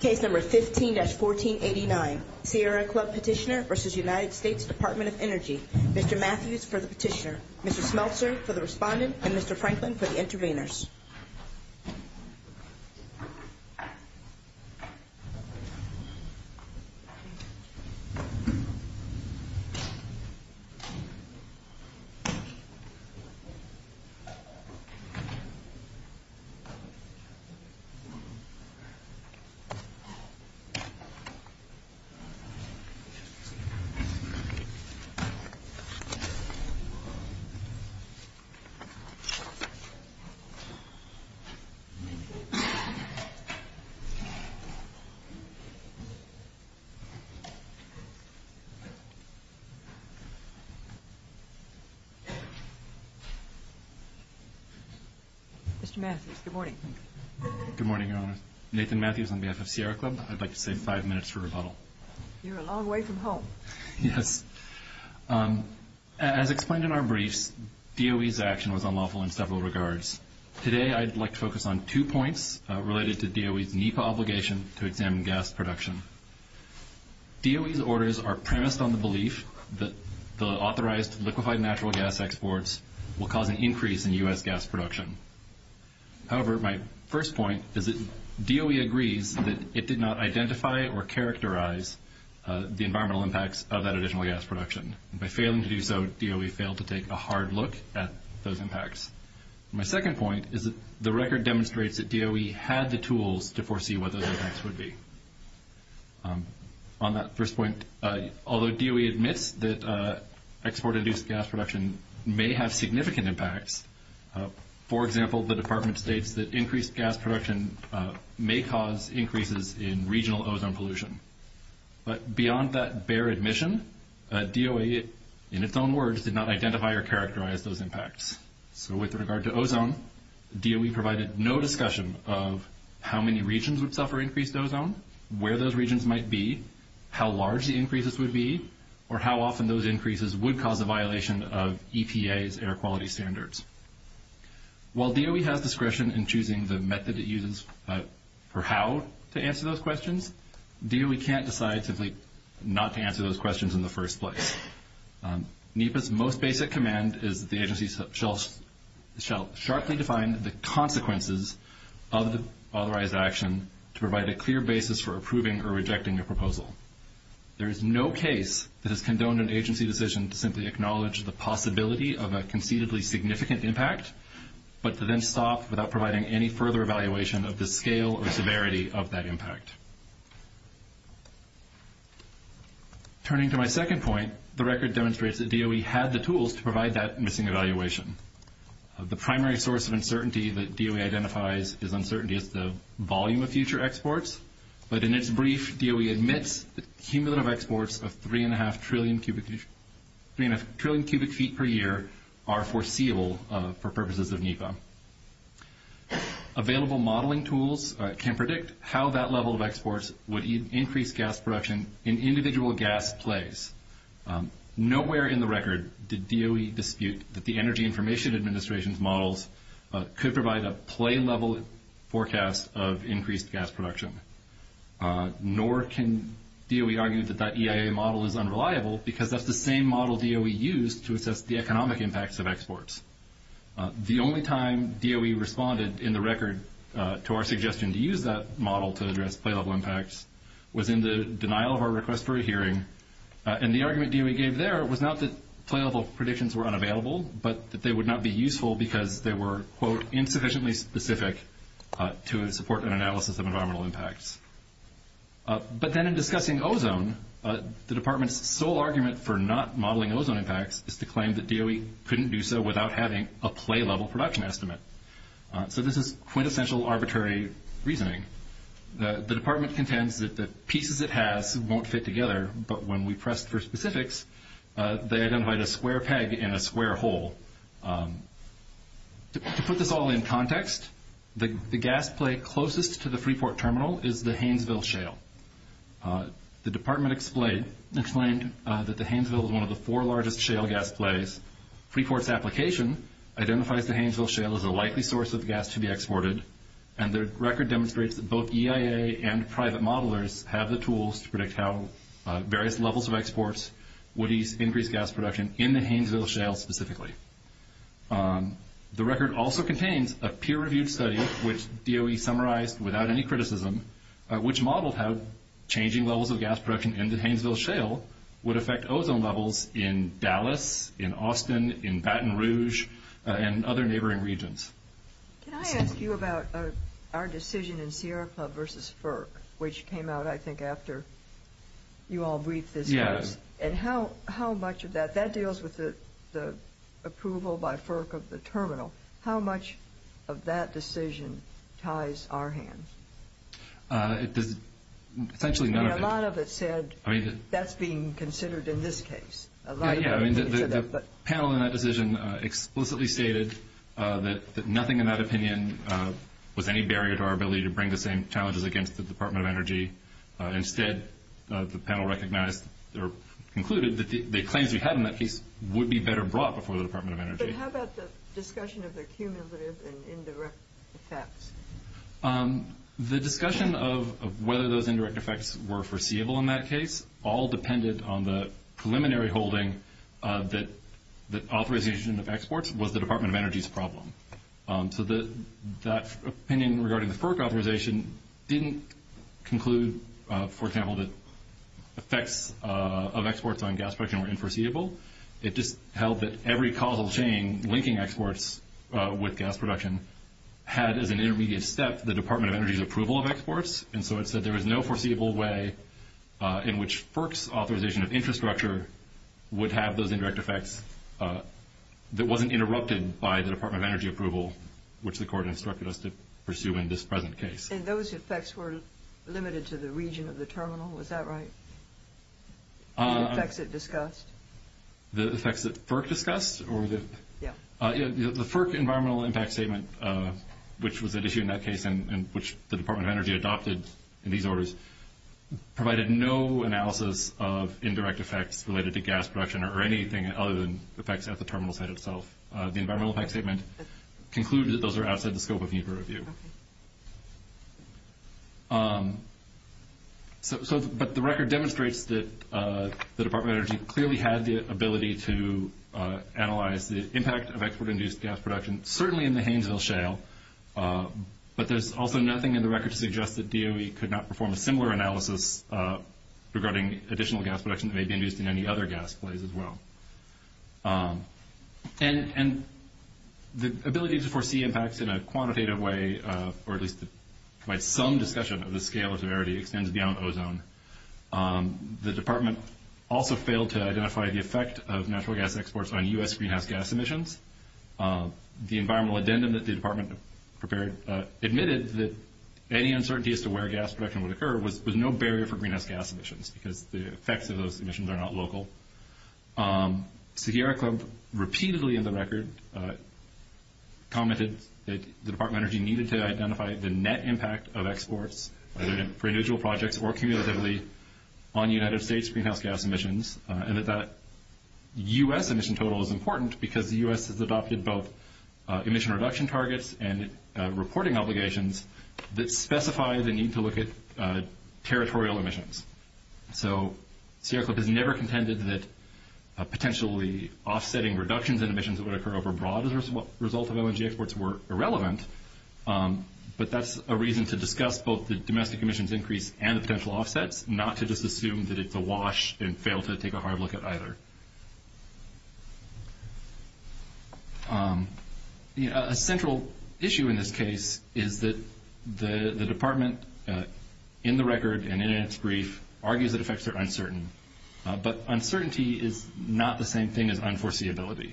Case No. 15-1489 Sierra Club Petitioner v. United States Department of Energy Mr. Matthews for the petitioner, Mr. Smeltzer for the respondent, and Mr. Franklin for the intervenors Mr. Matthews, good morning. Good morning, Your Honor. Nathan Matthews on behalf of Sierra Club. I'd like to say five minutes for rebuttal. You're a long way from home. Yes. As explained in our briefs, DOE's action was unlawful in several regards. Today I'd like to focus on two points related to DOE's NEPA obligation to examine gas production. DOE's orders are premised on the belief that the authorized liquefied natural gas exports will cause an increase in U.S. gas production. However, my first point is that DOE agrees that it did not identify or characterize the environmental impacts of that additional gas production. By failing to do so, DOE failed to take a hard look at those impacts. My second point is that the record demonstrates that DOE had the tools to foresee what those impacts would be. On that first point, although DOE admits that export-induced gas production may have significant impacts, for example, the Department states that increased gas production may cause increases in regional ozone pollution. But beyond that bare admission, DOE, in its own words, did not identify or characterize those impacts. So with regard to ozone, DOE provided no discussion of how many regions would suffer increased ozone, where those regions might be, how large the increases would be, or how often those increases would cause a violation of EPA's air quality standards. While DOE has discretion in choosing the method it uses for how to answer those questions, DOE can't decide simply not to answer those questions in the first place. NEPA's most basic command is that the agency shall sharply define the consequences of the authorized action to provide a clear basis for approving or rejecting a proposal. There is no case that has condoned an agency decision to simply acknowledge the possibility of a conceitedly significant impact, but to then stop without providing any further evaluation of the scale or severity of that impact. Turning to my second point, the record demonstrates that DOE had the tools to provide that missing evaluation. The primary source of uncertainty that DOE identifies as uncertainty is the volume of future exports, but in its brief, DOE admits that cumulative exports of 3.5 trillion cubic feet per year are foreseeable for purposes of NEPA. Available modeling tools can predict how that level of exports would increase gas production in individual gas plays. Nowhere in the record did DOE dispute that the Energy Information Administration's models could provide a play-level forecast of increased gas production, nor can DOE argue that that EIA model is unreliable because that's the same model DOE used to assess the economic impacts of exports. The only time DOE responded in the record to our suggestion to use that model to address play-level impacts was in the denial of our request for a hearing, and the argument DOE gave there was not that play-level predictions were unavailable, but that they would not be useful because they were, quote, insufficiently specific to support an analysis of environmental impacts. But then in discussing ozone, the Department's sole argument for not modeling ozone impacts is to claim that DOE couldn't do so without having a play-level production estimate. So this is quintessential arbitrary reasoning. The Department contends that the pieces it has won't fit together, but when we pressed for specifics, they identified a square peg in a square hole. To put this all in context, the gas play closest to the Freeport Terminal is the Haynesville Shale. The Department explained that the Haynesville is one of the four largest shale gas plays. Freeport's application identifies the Haynesville Shale as a likely source of gas to be exported, and their record demonstrates that both EIA and private modelers have the tools to predict how various levels of exports would increase gas production in the Haynesville Shale specifically. The record also contains a peer-reviewed study, which DOE summarized without any criticism, which modeled how changing levels of gas production in the Haynesville Shale would affect ozone levels in Dallas, in Austin, in Baton Rouge, and other neighboring regions. Can I ask you about our decision in Sierra Club versus FERC, which came out, I think, after you all briefed this. Yes. And how much of that, that deals with the approval by FERC of the Terminal. How much of that decision ties our hand? It does essentially none of it. A lot of it said that's being considered in this case. Yeah, I mean, the panel in that decision explicitly stated that nothing in that opinion was any barrier to our ability to bring the same challenges against the Department of Energy. Instead, the panel recognized or concluded that the claims we had in that case would be better brought before the Department of Energy. But how about the discussion of the cumulative and indirect effects? The discussion of whether those indirect effects were foreseeable in that case all depended on the preliminary holding that authorization of exports was the Department of Energy's problem. So that opinion regarding the FERC authorization didn't conclude, for example, that effects of exports on gas production were unforeseeable. It just held that every causal chain linking exports with gas production had as an intermediate step the Department of Energy's approval of exports. And so it said there was no foreseeable way in which FERC's authorization of infrastructure would have those indirect effects that wasn't interrupted by the Department of Energy approval, which the Court instructed us to pursue in this present case. And those effects were limited to the region of the Terminal. Was that right? The effects it discussed? The effects that FERC discussed? Yeah. The FERC environmental impact statement, which was at issue in that case and which the Department of Energy adopted in these orders, provided no analysis of indirect effects related to gas production or anything other than effects at the Terminal site itself. The environmental impact statement concluded that those are outside the scope of need for review. Okay. But the record demonstrates that the Department of Energy clearly had the ability to analyze the impact of export-induced gas production, certainly in the Haynesville Shale, but there's also nothing in the record to suggest that DOE could not perform a similar analysis regarding additional gas production that may be induced in any other gas place as well. And the ability to foresee impacts in a quantitative way, or at least to provide some discussion of the scale of severity, extends beyond ozone. The Department also failed to identify the effect of natural gas exports on U.S. greenhouse gas emissions. The environmental addendum that the Department admitted that any uncertainties to where gas production would occur was no barrier for greenhouse gas emissions because the effects of those emissions are not local. Sagiera Club repeatedly in the record commented that the Department of Energy needed to identify the net impact of exports, either for individual projects or cumulatively, on United States greenhouse gas emissions, and that that U.S. emission total is important because the U.S. has adopted both emission reduction targets and reporting obligations that specify the need to look at territorial emissions. So Sagiera Club has never contended that potentially offsetting reductions in emissions that would occur overbroad as a result of O&G exports were irrelevant, but that's a reason to discuss both the domestic emissions increase and the potential offsets, not to just assume that it's a wash and fail to take a hard look at either. A central issue in this case is that the Department, in the record and in its brief, argues that effects are uncertain, but uncertainty is not the same thing as unforeseeability.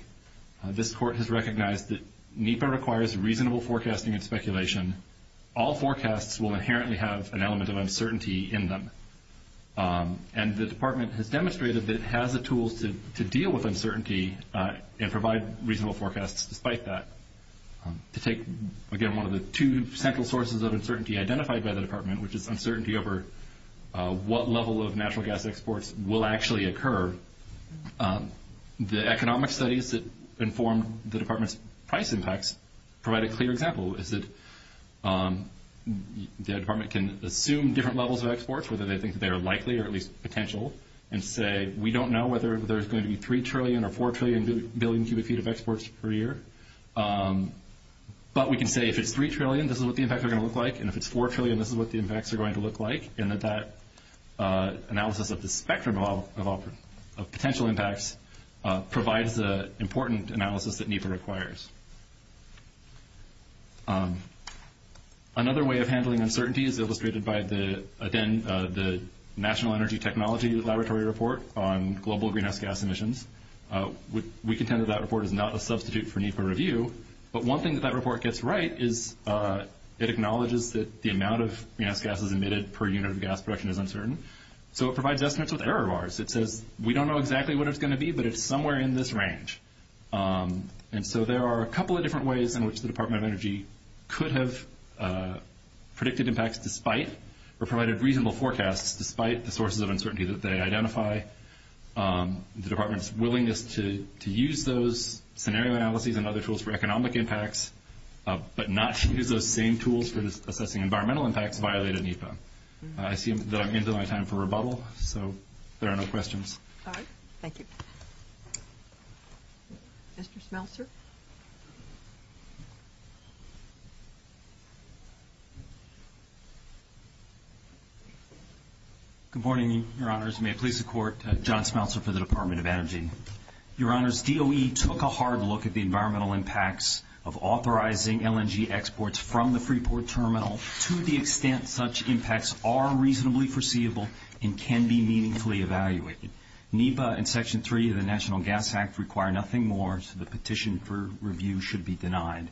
This court has recognized that NEPA requires reasonable forecasting and speculation. All forecasts will inherently have an element of uncertainty in them, and the Department has demonstrated that it has the tools to deal with uncertainty and provide reasonable forecasts despite that. To take, again, one of the two central sources of uncertainty identified by the Department, which is uncertainty over what level of natural gas exports will actually occur, the economic studies that inform the Department's price impacts provide a clear example, is that the Department can assume different levels of exports, whether they think they are likely or at least potential, and say we don't know whether there's going to be 3 trillion or 4 trillion billion cubic feet of exports per year, but we can say if it's 3 trillion, this is what the impacts are going to look like, and if it's 4 trillion, this is what the impacts are going to look like, and that that analysis of the spectrum of potential impacts provides the important analysis that NEPA requires. Another way of handling uncertainty is illustrated by, again, the National Energy Technology Laboratory report on global greenhouse gas emissions. We contend that that report is not a substitute for NEPA review, but one thing that that report gets right is it acknowledges that the amount of greenhouse gases emitted per unit of gas production is uncertain, so it provides estimates with error bars. It says we don't know exactly what it's going to be, but it's somewhere in this range, and so there are a couple of different ways in which the Department of Energy could have predicted impacts despite or provided reasonable forecasts despite the sources of uncertainty that they identify. The Department's willingness to use those scenario analyses and other tools for economic impacts, but not to use those same tools for assessing environmental impacts violated NEPA. I see that I'm into my time for rebuttal, so there are no questions. All right. Thank you. Mr. Smeltzer. Good morning, Your Honors. May it please the Court, John Smeltzer for the Department of Energy. Your Honors, DOE took a hard look at the environmental impacts of authorizing LNG exports from the Freeport Terminal to the extent such impacts are reasonably foreseeable and can be meaningfully evaluated. NEPA and Section 3 of the National Gas Act require nothing more, so the petition for review should be denied.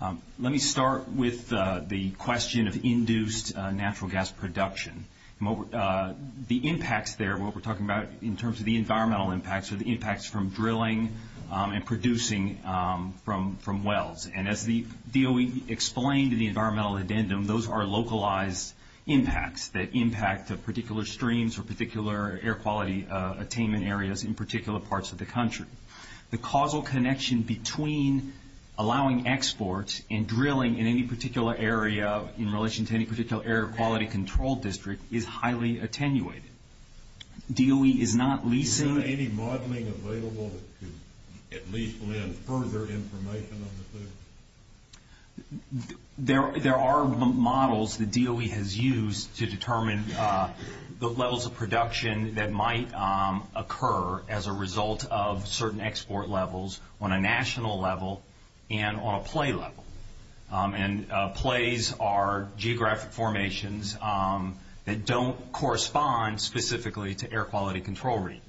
Let me start with the question of induced natural gas production. The impacts there, what we're talking about in terms of the environmental impacts, are the impacts from drilling and producing from wells. And as the DOE explained in the environmental addendum, those are localized impacts that impact the particular streams or particular air quality attainment areas in particular parts of the country. The causal connection between allowing exports and drilling in any particular area in relation to any particular air quality control district is highly attenuated. DOE is not leasing... Is there any modeling available to at least lend further information on this issue? There are models that DOE has used to determine the levels of production that might occur as a result of certain export levels on a national level and on a play level. Plays are geographic formations that don't correspond specifically to air quality control regions.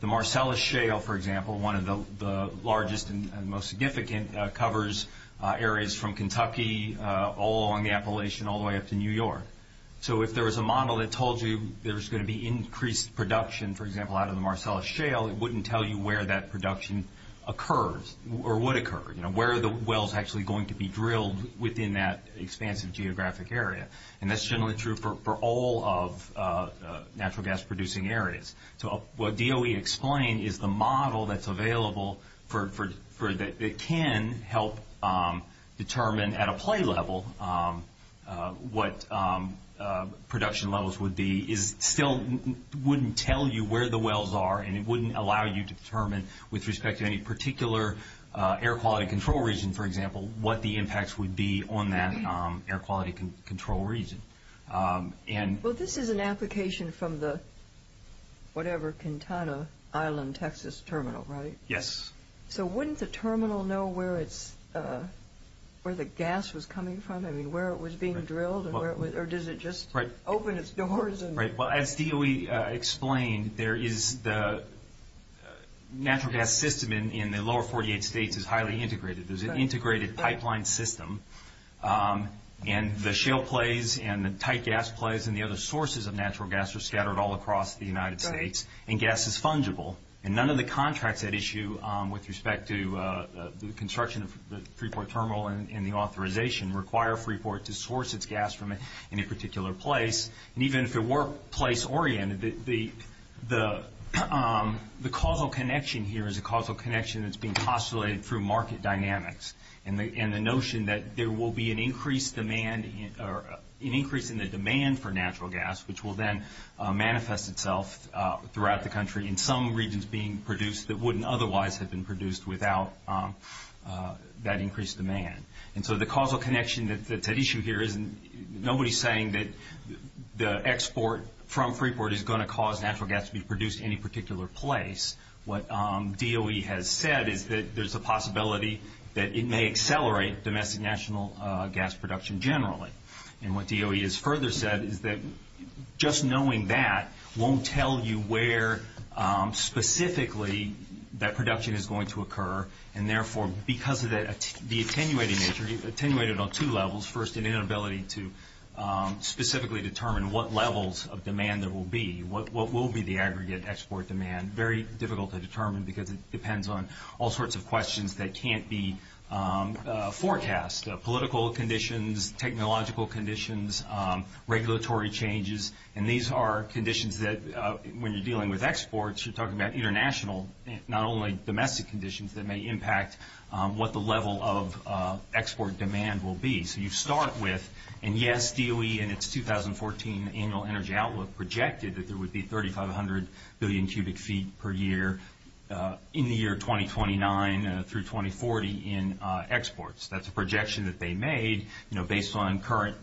The Marcellus Shale, for example, one of the largest and most significant covers areas from Kentucky all along the Appalachian all the way up to New York. So if there was a model that told you there was going to be increased production, for example, out of the Marcellus Shale, it wouldn't tell you where that production occurs or would occur. Where are the wells actually going to be drilled within that expansive geographic area? And that's generally true for all of natural gas producing areas. So what DOE explained is the model that's available that can help determine at a play level what production levels would be still wouldn't tell you where the wells are, and it wouldn't allow you to determine with respect to any particular air quality control region, for example, what the impacts would be on that air quality control region. Well, this is an application from the whatever, Kintana Island, Texas terminal, right? Yes. So wouldn't the terminal know where the gas was coming from? I mean, where it was being drilled or does it just open its doors? Well, as DOE explained, there is the natural gas system in the lower 48 states is highly integrated. There's an integrated pipeline system, and the shale plays and the tight gas plays and the other sources of natural gas are scattered all across the United States, and gas is fungible. And none of the contracts at issue with respect to the construction of the Freeport Terminal and the authorization require Freeport to source its gas from any particular place. And even if it were place-oriented, the causal connection here is a causal connection that's being postulated through market dynamics and the notion that there will be an increase in the demand for natural gas, which will then manifest itself throughout the country in some regions being produced that wouldn't otherwise have been produced without that increased demand. And so the causal connection that's at issue here isn't nobody saying that the export from Freeport is going to cause natural gas to be produced in any particular place. What DOE has said is that there's a possibility that it may accelerate domestic national gas production generally. And what DOE has further said is that just knowing that won't tell you where specifically that production is going to occur, and therefore because of the attenuated nature, attenuated on two levels, first an inability to specifically determine what levels of demand there will be, what will be the aggregate export demand, very difficult to determine because it depends on all sorts of questions that can't be forecast, political conditions, technological conditions, regulatory changes. And these are conditions that when you're dealing with exports, you're talking about international, not only domestic conditions that may impact what the level of export demand will be. So you start with, and yes, DOE in its 2014 annual energy outlook projected that there would be 3,500 billion cubic feet per year in the year 2029 through 2040 in exports. That's a projection that they made based on current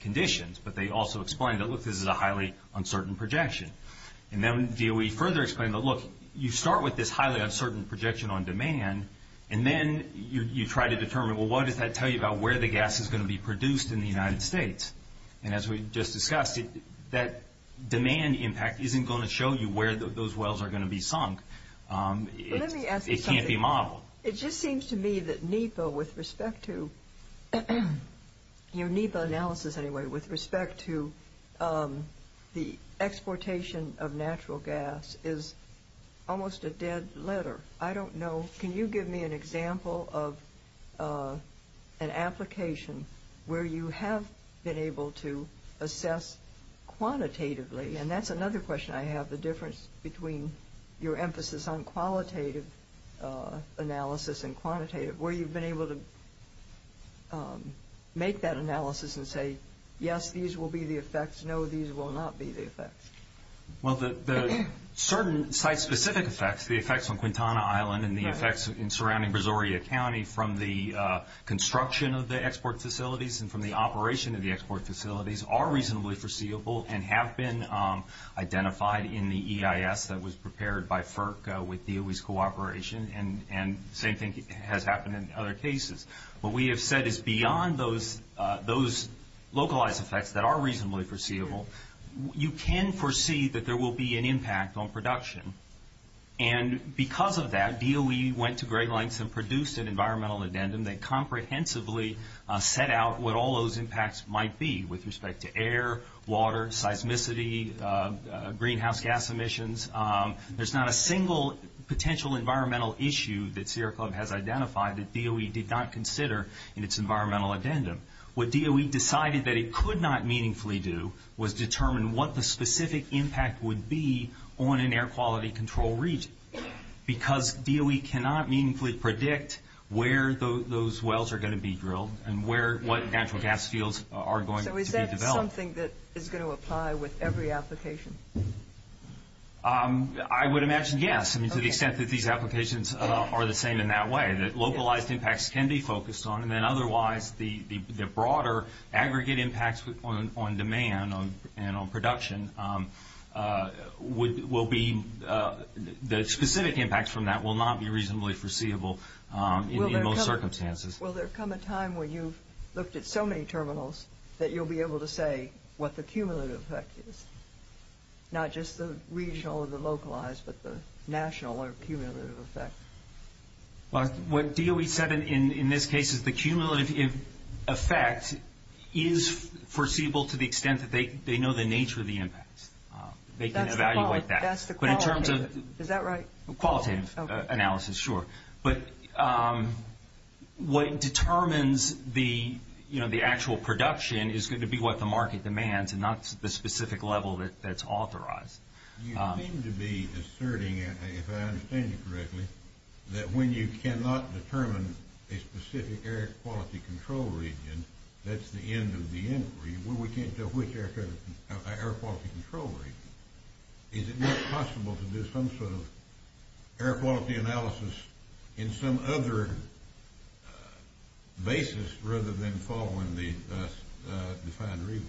conditions, but they also explained that, look, this is a highly uncertain projection. And then DOE further explained, look, you start with this highly uncertain projection on demand, and then you try to determine, well, what does that tell you about where the gas is going to be produced in the United States? And as we just discussed, that demand impact isn't going to show you where those wells are going to be sunk. It can't be modeled. It just seems to me that NEPA, with respect to your NEPA analysis anyway, with respect to the exportation of natural gas is almost a dead letter. I don't know. Can you give me an example of an application where you have been able to assess quantitatively? And that's another question I have, the difference between your emphasis on qualitative analysis and quantitative, where you've been able to make that analysis and say, yes, these will be the effects, no, these will not be the effects. Well, the certain site-specific effects, the effects on Quintana Island and the effects in surrounding Brazoria County from the construction of the export facilities and from the operation of the export facilities are reasonably foreseeable and have been identified in the EIS that was prepared by FERC with DOE's cooperation, and the same thing has happened in other cases. What we have said is beyond those localized effects that are reasonably foreseeable, you can foresee that there will be an impact on production. And because of that, DOE went to great lengths and produced an environmental addendum that comprehensively set out what all those impacts might be with respect to air, water, seismicity, greenhouse gas emissions. There's not a single potential environmental issue that Sierra Club has identified that DOE did not consider in its environmental addendum. What DOE decided that it could not meaningfully do was determine what the specific impact would be on an air quality control region because DOE cannot meaningfully predict where those wells are going to be drilled and what natural gas fields are going to be developed. So is that something that is going to apply with every application? I would imagine yes, to the extent that these applications are the same in that way, that localized impacts can be focused on, and then otherwise the broader aggregate impacts on demand and on production will be the specific impacts from that will not be reasonably foreseeable in most circumstances. Will there come a time when you've looked at so many terminals that you'll be able to say what the cumulative effect is? Not just the regional or the localized, but the national or cumulative effect? What DOE said in this case is the cumulative effect is foreseeable to the extent that they know the nature of the impacts. They can evaluate that. That's the qualitative. Is that right? Qualitative analysis, sure. But what determines the actual production is going to be what the market demands and not the specific level that's authorized. You seem to be asserting, if I understand you correctly, that when you cannot determine a specific air quality control region, that's the end of the inquiry. We can't tell which air quality control region. Is it not possible to do some sort of air quality analysis in some other basis rather than following the defined region?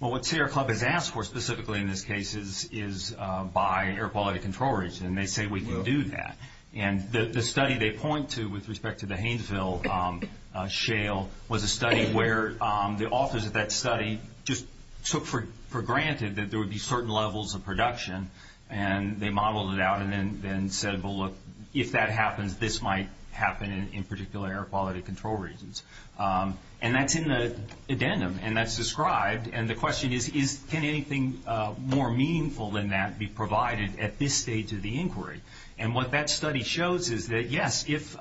Well, what Sea Air Club has asked for specifically in this case is by air quality control region. They say we can do that. The study they point to with respect to the Haynesville shale was a study where the authors of that study just took for granted that there would be certain levels of production. They modeled it out and then said, well, look, if that happens, this might happen in particular air quality control regions. And that's in the addendum and that's described. And the question is, can anything more meaningful than that be provided at this stage of the inquiry? And what that study shows is that, yes, if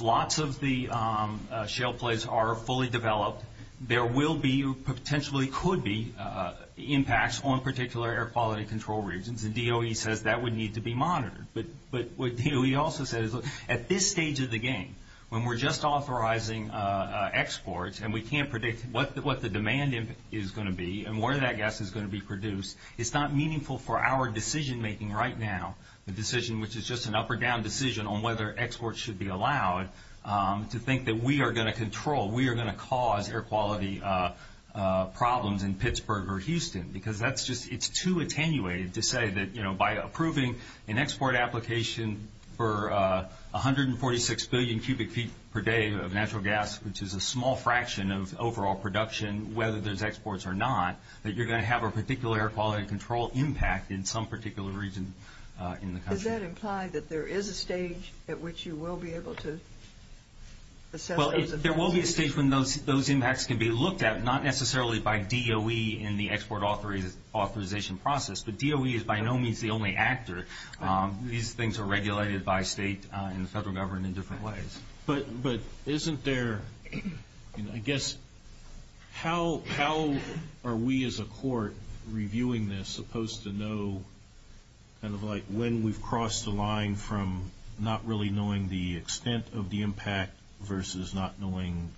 lots of the shale plates are fully developed, there will be or potentially could be impacts on particular air quality control regions. And DOE says that would need to be monitored. But what DOE also says is at this stage of the game, when we're just authorizing exports and we can't predict what the demand is going to be and where that gas is going to be produced, it's not meaningful for our decision-making right now, the decision which is just an up or down decision on whether exports should be allowed, to think that we are going to control, we are going to cause air quality problems in Pittsburgh or Houston. Because that's just too attenuated to say that by approving an export application for 146 billion cubic feet per day of natural gas, which is a small fraction of overall production, whether there's exports or not, that you're going to have a particular air quality control impact in some particular region in the country. Does that imply that there is a stage at which you will be able to assess those effects? There is a stage when those impacts can be looked at, not necessarily by DOE in the export authorization process. But DOE is by no means the only actor. These things are regulated by state and the federal government in different ways. But isn't there, I guess, how are we as a court reviewing this, supposed to know kind of like when we've crossed the line from not really knowing the extent of the impact versus not knowing,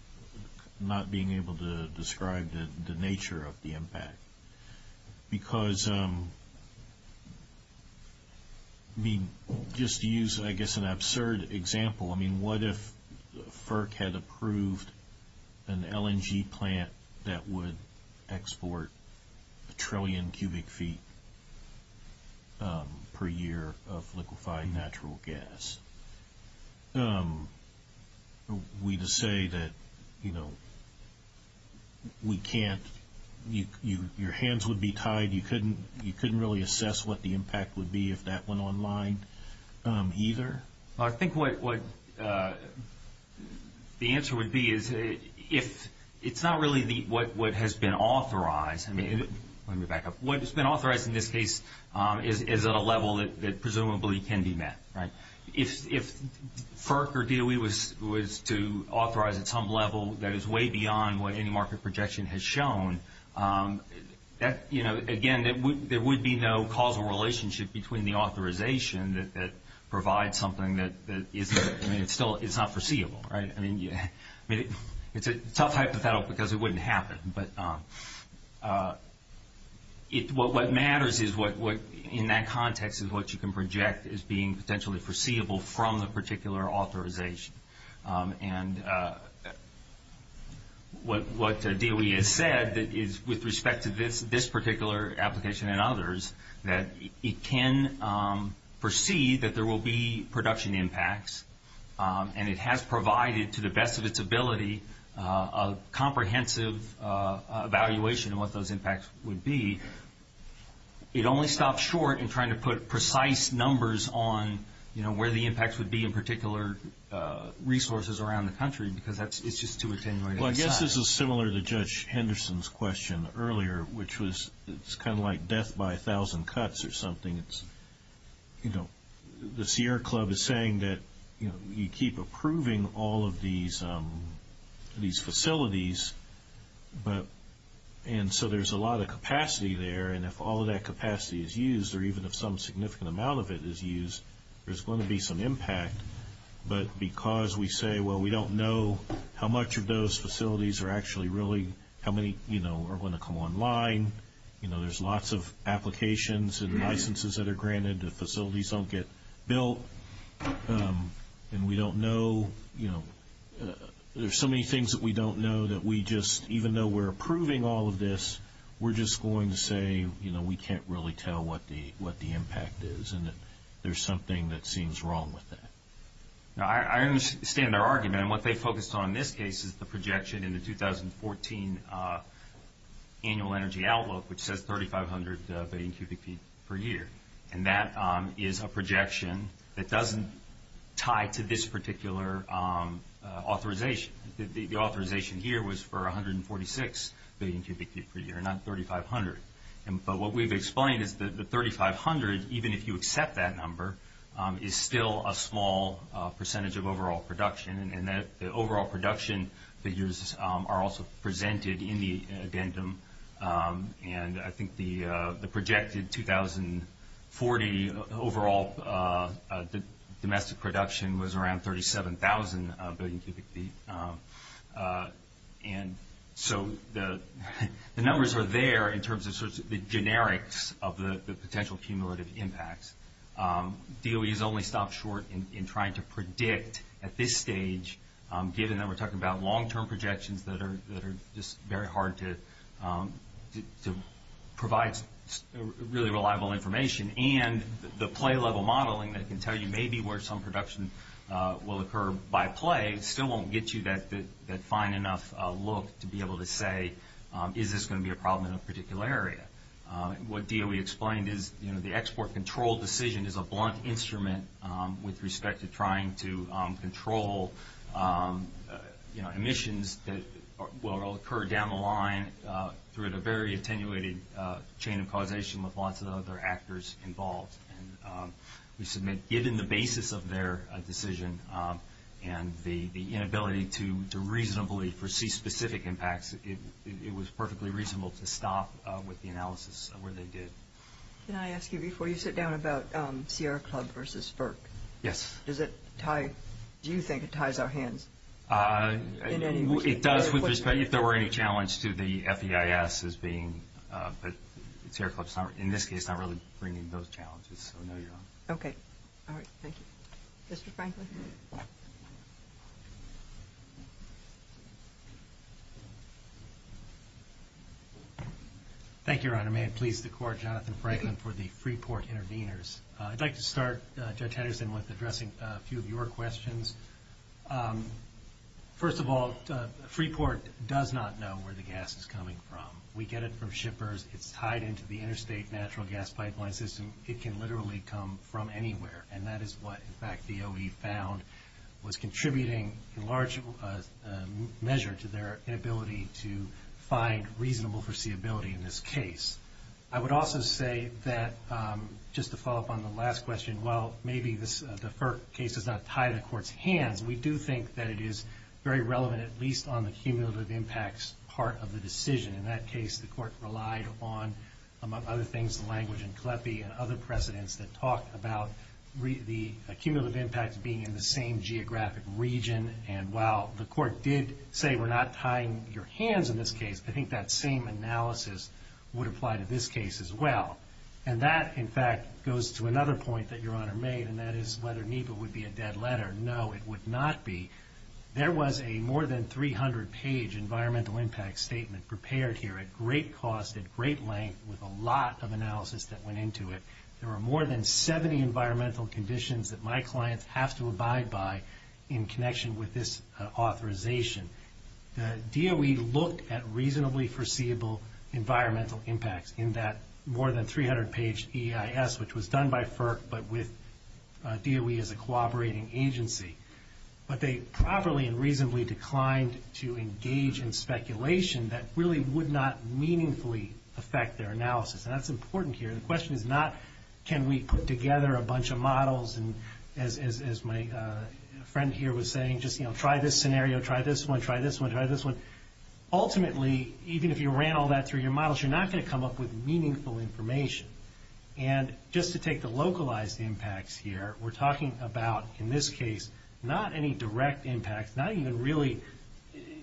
not being able to describe the nature of the impact? Because, I mean, just to use, I guess, an absurd example, I mean, what if FERC had approved an LNG plant that would export a trillion cubic feet per year of liquefied natural gas? Are we to say that, you know, we can't, your hands would be tied, you couldn't really assess what the impact would be if that went online either? Well, I think what the answer would be is if it's not really what has been authorized, I mean, let me back up, what has been authorized in this case is at a level that presumably can be met, right? If FERC or DOE was to authorize at some level that is way beyond what any market projection has shown, you know, again, there would be no causal relationship between the authorization that provides something that is not foreseeable, right? I mean, it's a tough hypothetical because it wouldn't happen, but what matters in that context is what you can project as being potentially foreseeable from the particular authorization. And what DOE has said is with respect to this particular application and others, that it can foresee that there will be production impacts and it has provided to the best of its ability a comprehensive evaluation of what those impacts would be. It only stops short in trying to put precise numbers on, you know, where the impacts would be in particular resources around the country because it's just too attenuating to decide. Well, I guess this is similar to Judge Henderson's question earlier, which was it's kind of like death by a thousand cuts or something. You know, the Sierra Club is saying that, you know, you keep approving all of these facilities, and so there's a lot of capacity there, and if all of that capacity is used or even if some significant amount of it is used, there's going to be some impact. But because we say, well, we don't know how much of those facilities are actually really and how many, you know, are going to come online. You know, there's lots of applications and licenses that are granted if facilities don't get built. And we don't know, you know, there's so many things that we don't know that we just, even though we're approving all of this, we're just going to say, you know, we can't really tell what the impact is and that there's something that seems wrong with that. I understand their argument, and what they focused on in this case is the projection in the 2014 annual energy outlook, which says 3,500 billion cubic feet per year. And that is a projection that doesn't tie to this particular authorization. The authorization here was for 146 billion cubic feet per year, not 3,500. But what we've explained is that the 3,500, even if you accept that number, is still a small percentage of overall production, and that the overall production figures are also presented in the addendum. And I think the projected 2040 overall domestic production was around 37,000 billion cubic feet. And so the numbers are there in terms of the generics of the potential cumulative impacts. DOE has only stopped short in trying to predict at this stage, given that we're talking about long-term projections that are just very hard to provide really reliable information. And the play-level modeling that can tell you maybe where some production will occur by play still won't get you that fine enough look to be able to say, is this going to be a problem in a particular area? What DOE explained is the export control decision is a blunt instrument with respect to trying to control emissions that will occur down the line through the very attenuated chain of causation with lots of other actors involved. And we submit, given the basis of their decision and the inability to reasonably foresee specific impacts, it was perfectly reasonable to stop with the analysis where they did. Can I ask you before you sit down about Sierra Club versus FERC? Yes. Does it tie, do you think it ties our hands in any way? It does with respect, if there were any challenge to the FEIS as being, but Sierra Club in this case is not really bringing those challenges. So no, you're on. Okay. All right. Thank you. Mr. Franklin. Thank you, Your Honor. May it please the Court, Jonathan Franklin for the Freeport Interveners. I'd like to start, Judge Henderson, with addressing a few of your questions. First of all, Freeport does not know where the gas is coming from. We get it from shippers. It's tied into the interstate natural gas pipeline system. It can literally come from anywhere, and that is what, in fact, the OE found was contributing in large measure to their inability to find reasonable foreseeability in this case. I would also say that, just to follow up on the last question, while maybe the FERC case is not tied to the Court's hands, we do think that it is very relevant, at least on the cumulative impacts part of the decision. In that case, the Court relied on, among other things, the language in Kleppe and other precedents that talk about the cumulative impact being in the same geographic region, and while the Court did say we're not tying your hands in this case, I think that same analysis would apply to this case as well. And that, in fact, goes to another point that Your Honor made, and that is whether NEPA would be a dead letter. No, it would not be. There was a more than 300-page environmental impact statement prepared here at great cost, at great length, with a lot of analysis that went into it. There were more than 70 environmental conditions that my clients have to abide by in connection with this authorization. The DOE looked at reasonably foreseeable environmental impacts in that more than 300-page EIS, which was done by FERC, but with DOE as a cooperating agency. But they properly and reasonably declined to engage in speculation that really would not meaningfully affect their analysis, and that's important here. The question is not can we put together a bunch of models, and as my friend here was saying, just try this scenario, try this one, try this one, try this one. Ultimately, even if you ran all that through your models, you're not going to come up with meaningful information. And just to take the localized impacts here, we're talking about, in this case, not any direct impacts, not even really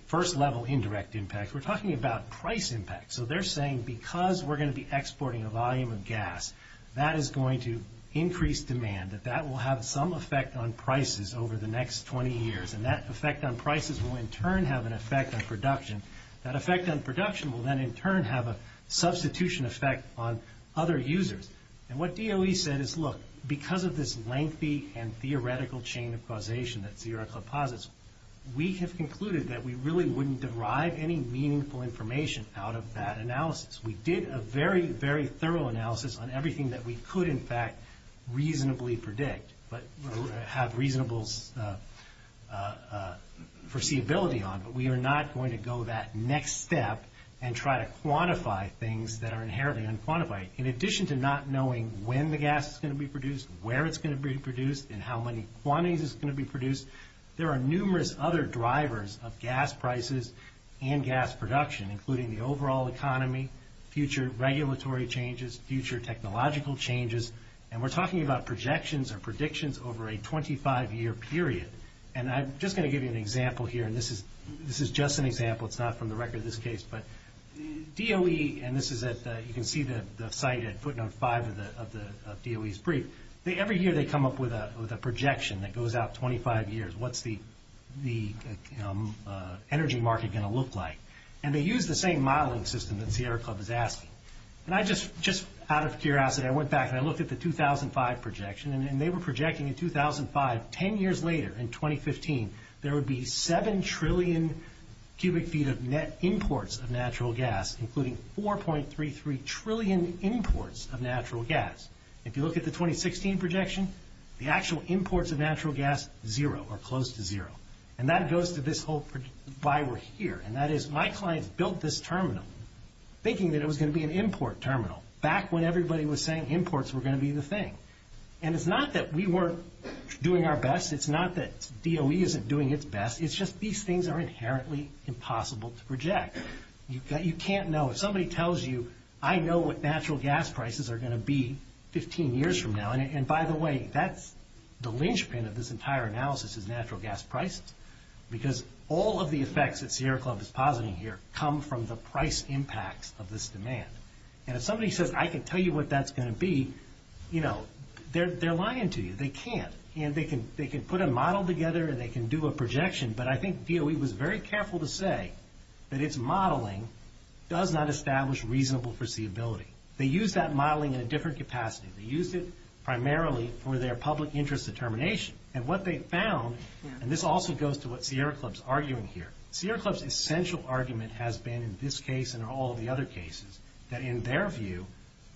first-level indirect impacts. We're talking about price impacts. So they're saying because we're going to be exporting a volume of gas, that is going to increase demand, that that will have some effect on prices over the next 20 years, and that effect on prices will in turn have an effect on production. That effect on production will then in turn have a substitution effect on other users. And what DOE said is, look, because of this lengthy and theoretical chain of causation that Sierra Club posits, we have concluded that we really wouldn't derive any meaningful information out of that analysis. We did a very, very thorough analysis on everything that we could, in fact, reasonably predict, but have reasonable foreseeability on, but we are not going to go that next step and try to quantify things that are inherently unquantified. In addition to not knowing when the gas is going to be produced, where it's going to be produced, and how many quantities it's going to be produced, there are numerous other drivers of gas prices and gas production, including the overall economy, future regulatory changes, future technological changes, and we're talking about projections or predictions over a 25-year period. And I'm just going to give you an example here, and this is just an example. It's not from the record of this case, but DOE, and you can see the site at footnote 5 of DOE's brief, every year they come up with a projection that goes out 25 years. What's the energy market going to look like? And they use the same modeling system that Sierra Club is asking. And just out of curiosity, I went back and I looked at the 2005 projection, and they were projecting in 2005, 10 years later, in 2015, there would be 7 trillion cubic feet of net imports of natural gas, including 4.33 trillion imports of natural gas. If you look at the 2016 projection, the actual imports of natural gas, zero, or close to zero. And that goes to this whole why we're here, and that is my clients built this terminal thinking that it was going to be an import terminal, back when everybody was saying imports were going to be the thing. And it's not that we weren't doing our best. It's not that DOE isn't doing its best. It's just these things are inherently impossible to project. You can't know. If somebody tells you, I know what natural gas prices are going to be 15 years from now, and by the way, the linchpin of this entire analysis is natural gas prices, because all of the effects that Sierra Club is positing here come from the price impacts of this demand. And if somebody says, I can tell you what that's going to be, they're lying to you. They can't. And they can put a model together and they can do a projection, but I think DOE was very careful to say that its modeling does not establish reasonable foreseeability. They used that modeling in a different capacity. They used it primarily for their public interest determination. And what they found, and this also goes to what Sierra Club is arguing here, Sierra Club's essential argument has been in this case and all of the other cases, that in their view,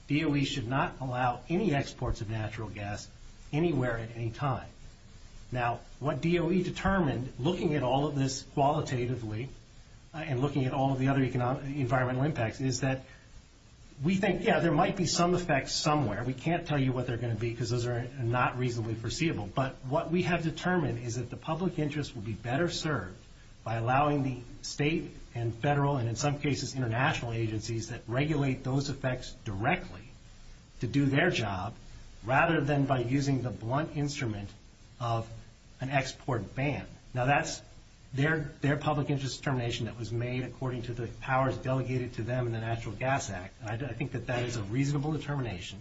DOE should not allow any exports of natural gas anywhere at any time. Now, what DOE determined, looking at all of this qualitatively and looking at all of the other environmental impacts, is that we think, yeah, there might be some effects somewhere. We can't tell you what they're going to be because those are not reasonably foreseeable. But what we have determined is that the public interest will be better served by allowing the state and federal and, in some cases, international agencies that regulate those effects directly to do their job, rather than by using the blunt instrument of an export ban. Now, that's their public interest determination that was made according to the powers delegated to them in the Natural Gas Act, and I think that that is a reasonable determination.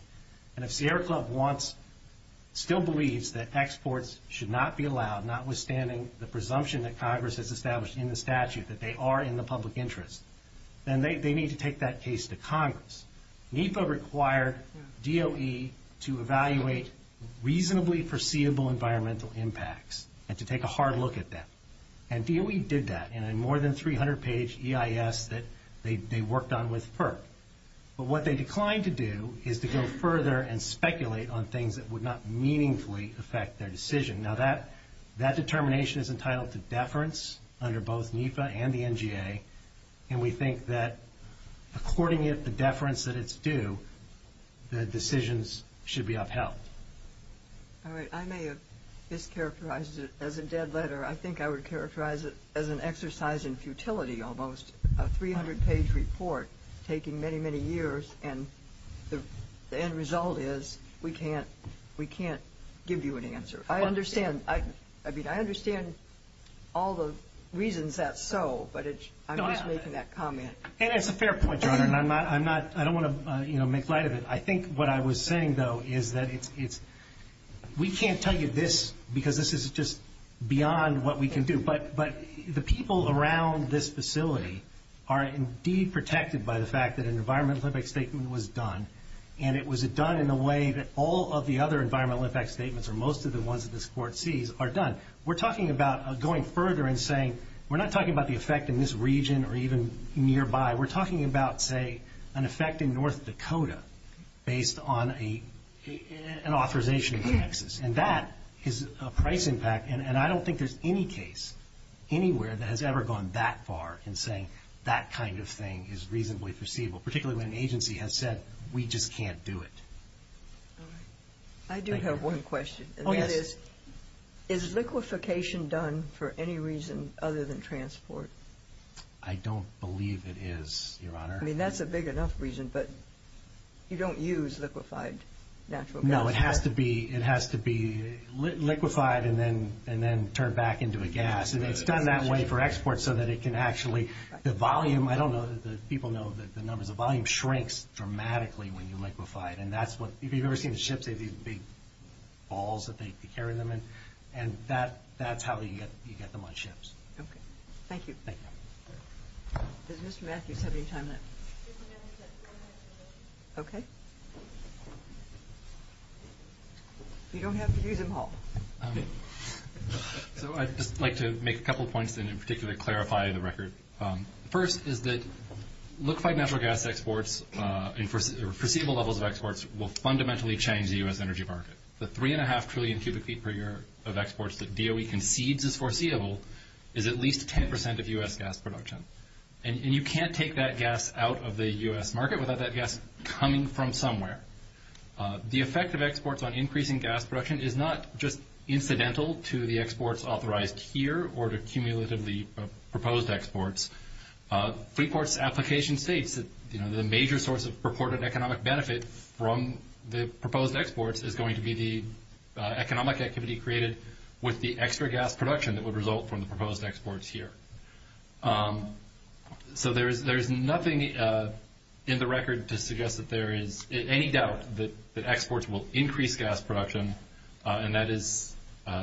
And if Sierra Club still believes that exports should not be allowed, notwithstanding the presumption that Congress has established in the statute that they are in the public interest, then they need to take that case to Congress. NEPA required DOE to evaluate reasonably foreseeable environmental impacts and to take a hard look at them. And DOE did that in a more than 300-page EIS that they worked on with FERC. But what they declined to do is to go further and speculate on things that would not meaningfully affect their decision. Now, that determination is entitled to deference under both NEPA and the NGA, and we think that according to the deference that it's due, the decisions should be upheld. All right. I may have mischaracterized it as a dead letter. I think I would characterize it as an exercise in futility almost, a 300-page report taking many, many years, and the end result is we can't give you an answer. I understand. I mean, I understand all the reasons that's so, but I'm just making that comment. And it's a fair point, Your Honor, and I don't want to make light of it. I think what I was saying, though, is that we can't tell you this because this is just beyond what we can do. But the people around this facility are indeed protected by the fact that an environmental impact statement was done, and it was done in a way that all of the other environmental impact statements or most of the ones that this Court sees are done. We're talking about going further and saying we're not talking about the effect in this region or even nearby. We're talking about, say, an effect in North Dakota based on an authorization in Texas, and that is a price impact. And I don't think there's any case anywhere that has ever gone that far in saying that kind of thing is reasonably foreseeable, particularly when an agency has said we just can't do it. All right. I do have one question. Oh, yes. Is liquefaction done for any reason other than transport? I don't believe it is, Your Honor. I mean, that's a big enough reason, but you don't use liquefied natural gas. No, it has to be liquefied and then turned back into a gas. And it's done that way for export so that it can actually, the volume, I don't know that the people know the numbers, the volume shrinks dramatically when you liquefy it. And that's what, if you've ever seen the ships, they have these big balls that they carry them in, and that's how you get them on ships. Okay. Thank you. Thank you. Does Mr. Matthews have any time left? Okay. You don't have to use them all. So I'd just like to make a couple points and in particular clarify the record. First is that liquefied natural gas exports and foreseeable levels of exports will fundamentally change the U.S. energy market. The 3.5 trillion cubic feet per year of exports that DOE concedes is foreseeable is at least 10% of U.S. gas production. And you can't take that gas out of the U.S. market without that gas coming from somewhere. The effect of exports on increasing gas production is not just incidental to the exports authorized here or to cumulatively proposed exports. Freeport's application states that the major source of purported economic benefit from the proposed exports is going to be the economic activity created with the extra gas production that would result from the proposed exports here. So there is nothing in the record to suggest that there is any doubt that exports will increase gas production, and that is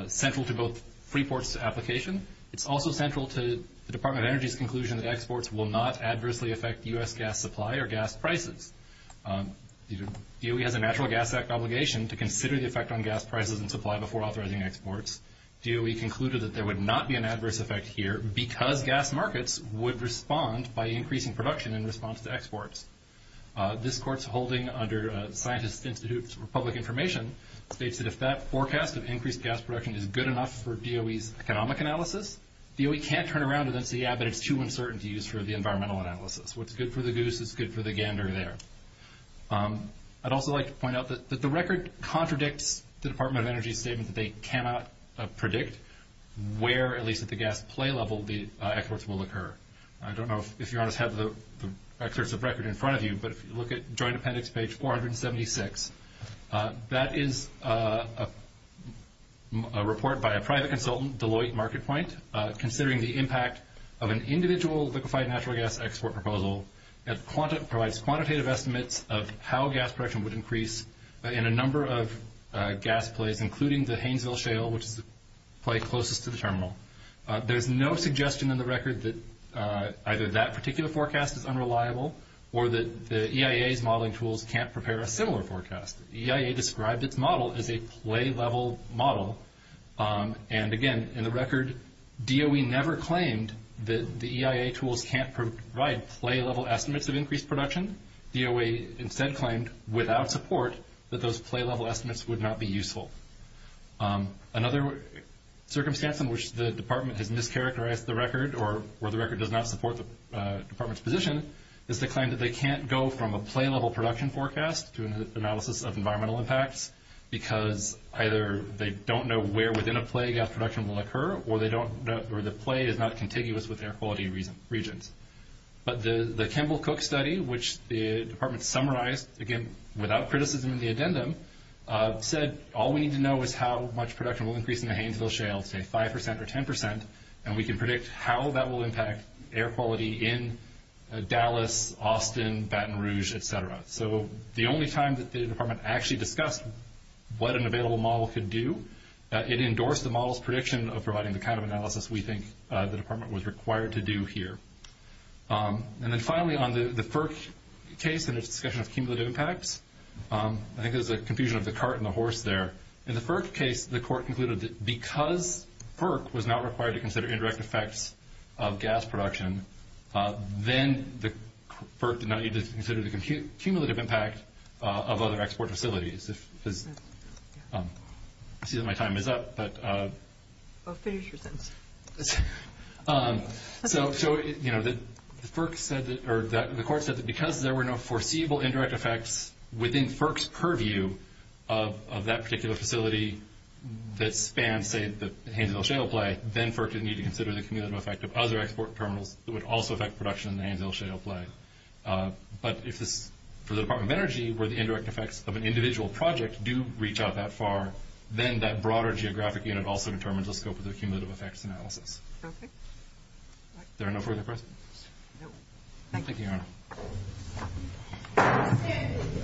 central to both Freeport's application. It's also central to the Department of Energy's conclusion that exports will not adversely affect U.S. gas supply or gas prices. DOE has a Natural Gas Act obligation to consider the effect on gas prices and supply before authorizing exports. DOE concluded that there would not be an adverse effect here because gas markets would respond by increasing production in response to exports. This court's holding under Scientist Institute for Public Information states that if that forecast of increased gas production is good enough for DOE's economic analysis, DOE can't turn around and say, yeah, but it's too uncertain to use for the environmental analysis. What's good for the goose is good for the gander there. I'd also like to point out that the record contradicts the Department of Energy's statement that they cannot predict where, at least at the gas play level, the exports will occur. I don't know if you have the records of record in front of you, but if you look at Joint Appendix page 476, that is a report by a private consultant, Deloitte Market Point, considering the impact of an individual liquefied natural gas export proposal. It provides quantitative estimates of how gas production would increase in a number of gas plays, including the Haynesville Shale, which is the play closest to the terminal. There's no suggestion in the record that either that particular forecast is unreliable or that the EIA's modeling tools can't prepare a similar forecast. The EIA described its model as a play-level model, and again, in the record, DOE never claimed that the EIA tools can't provide play-level estimates of increased production. DOE instead claimed, without support, that those play-level estimates would not be useful. Another circumstance in which the department has mischaracterized the record or where the record does not support the department's position is the claim that they can't go from a play-level production forecast to an analysis of environmental impacts because either they don't know where within a play gas production will occur or the play is not contiguous with air quality regions. But the Kimball-Cook study, which the department summarized, again, without criticism in the addendum, said all we need to know is how much production will increase in the Hainesville Shale, say 5% or 10%, and we can predict how that will impact air quality in Dallas, Austin, Baton Rouge, etc. So the only time that the department actually discussed what an available model could do, it endorsed the model's prediction of providing the kind of analysis we think the department was required to do here. And then finally, on the FERC case and its discussion of cumulative impacts, I think there's a confusion of the cart and the horse there. In the FERC case, the court concluded that because FERC was not required to consider indirect effects of gas production, then the FERC did not need to consider the cumulative impact of other export facilities. I see that my time is up, but... Well, finish your sentence. So the court said that because there were no foreseeable indirect effects within FERC's purview of that particular facility that spans, say, the Hainesville Shale play, then FERC didn't need to consider the cumulative effect of other export terminals that would also affect production in the Hainesville Shale play. But for the Department of Energy, where the indirect effects of an individual project do reach out that far, then that broader geographic unit also determines the scope of the cumulative effects analysis. Perfect. There are no further questions? Thank you, Your Honor.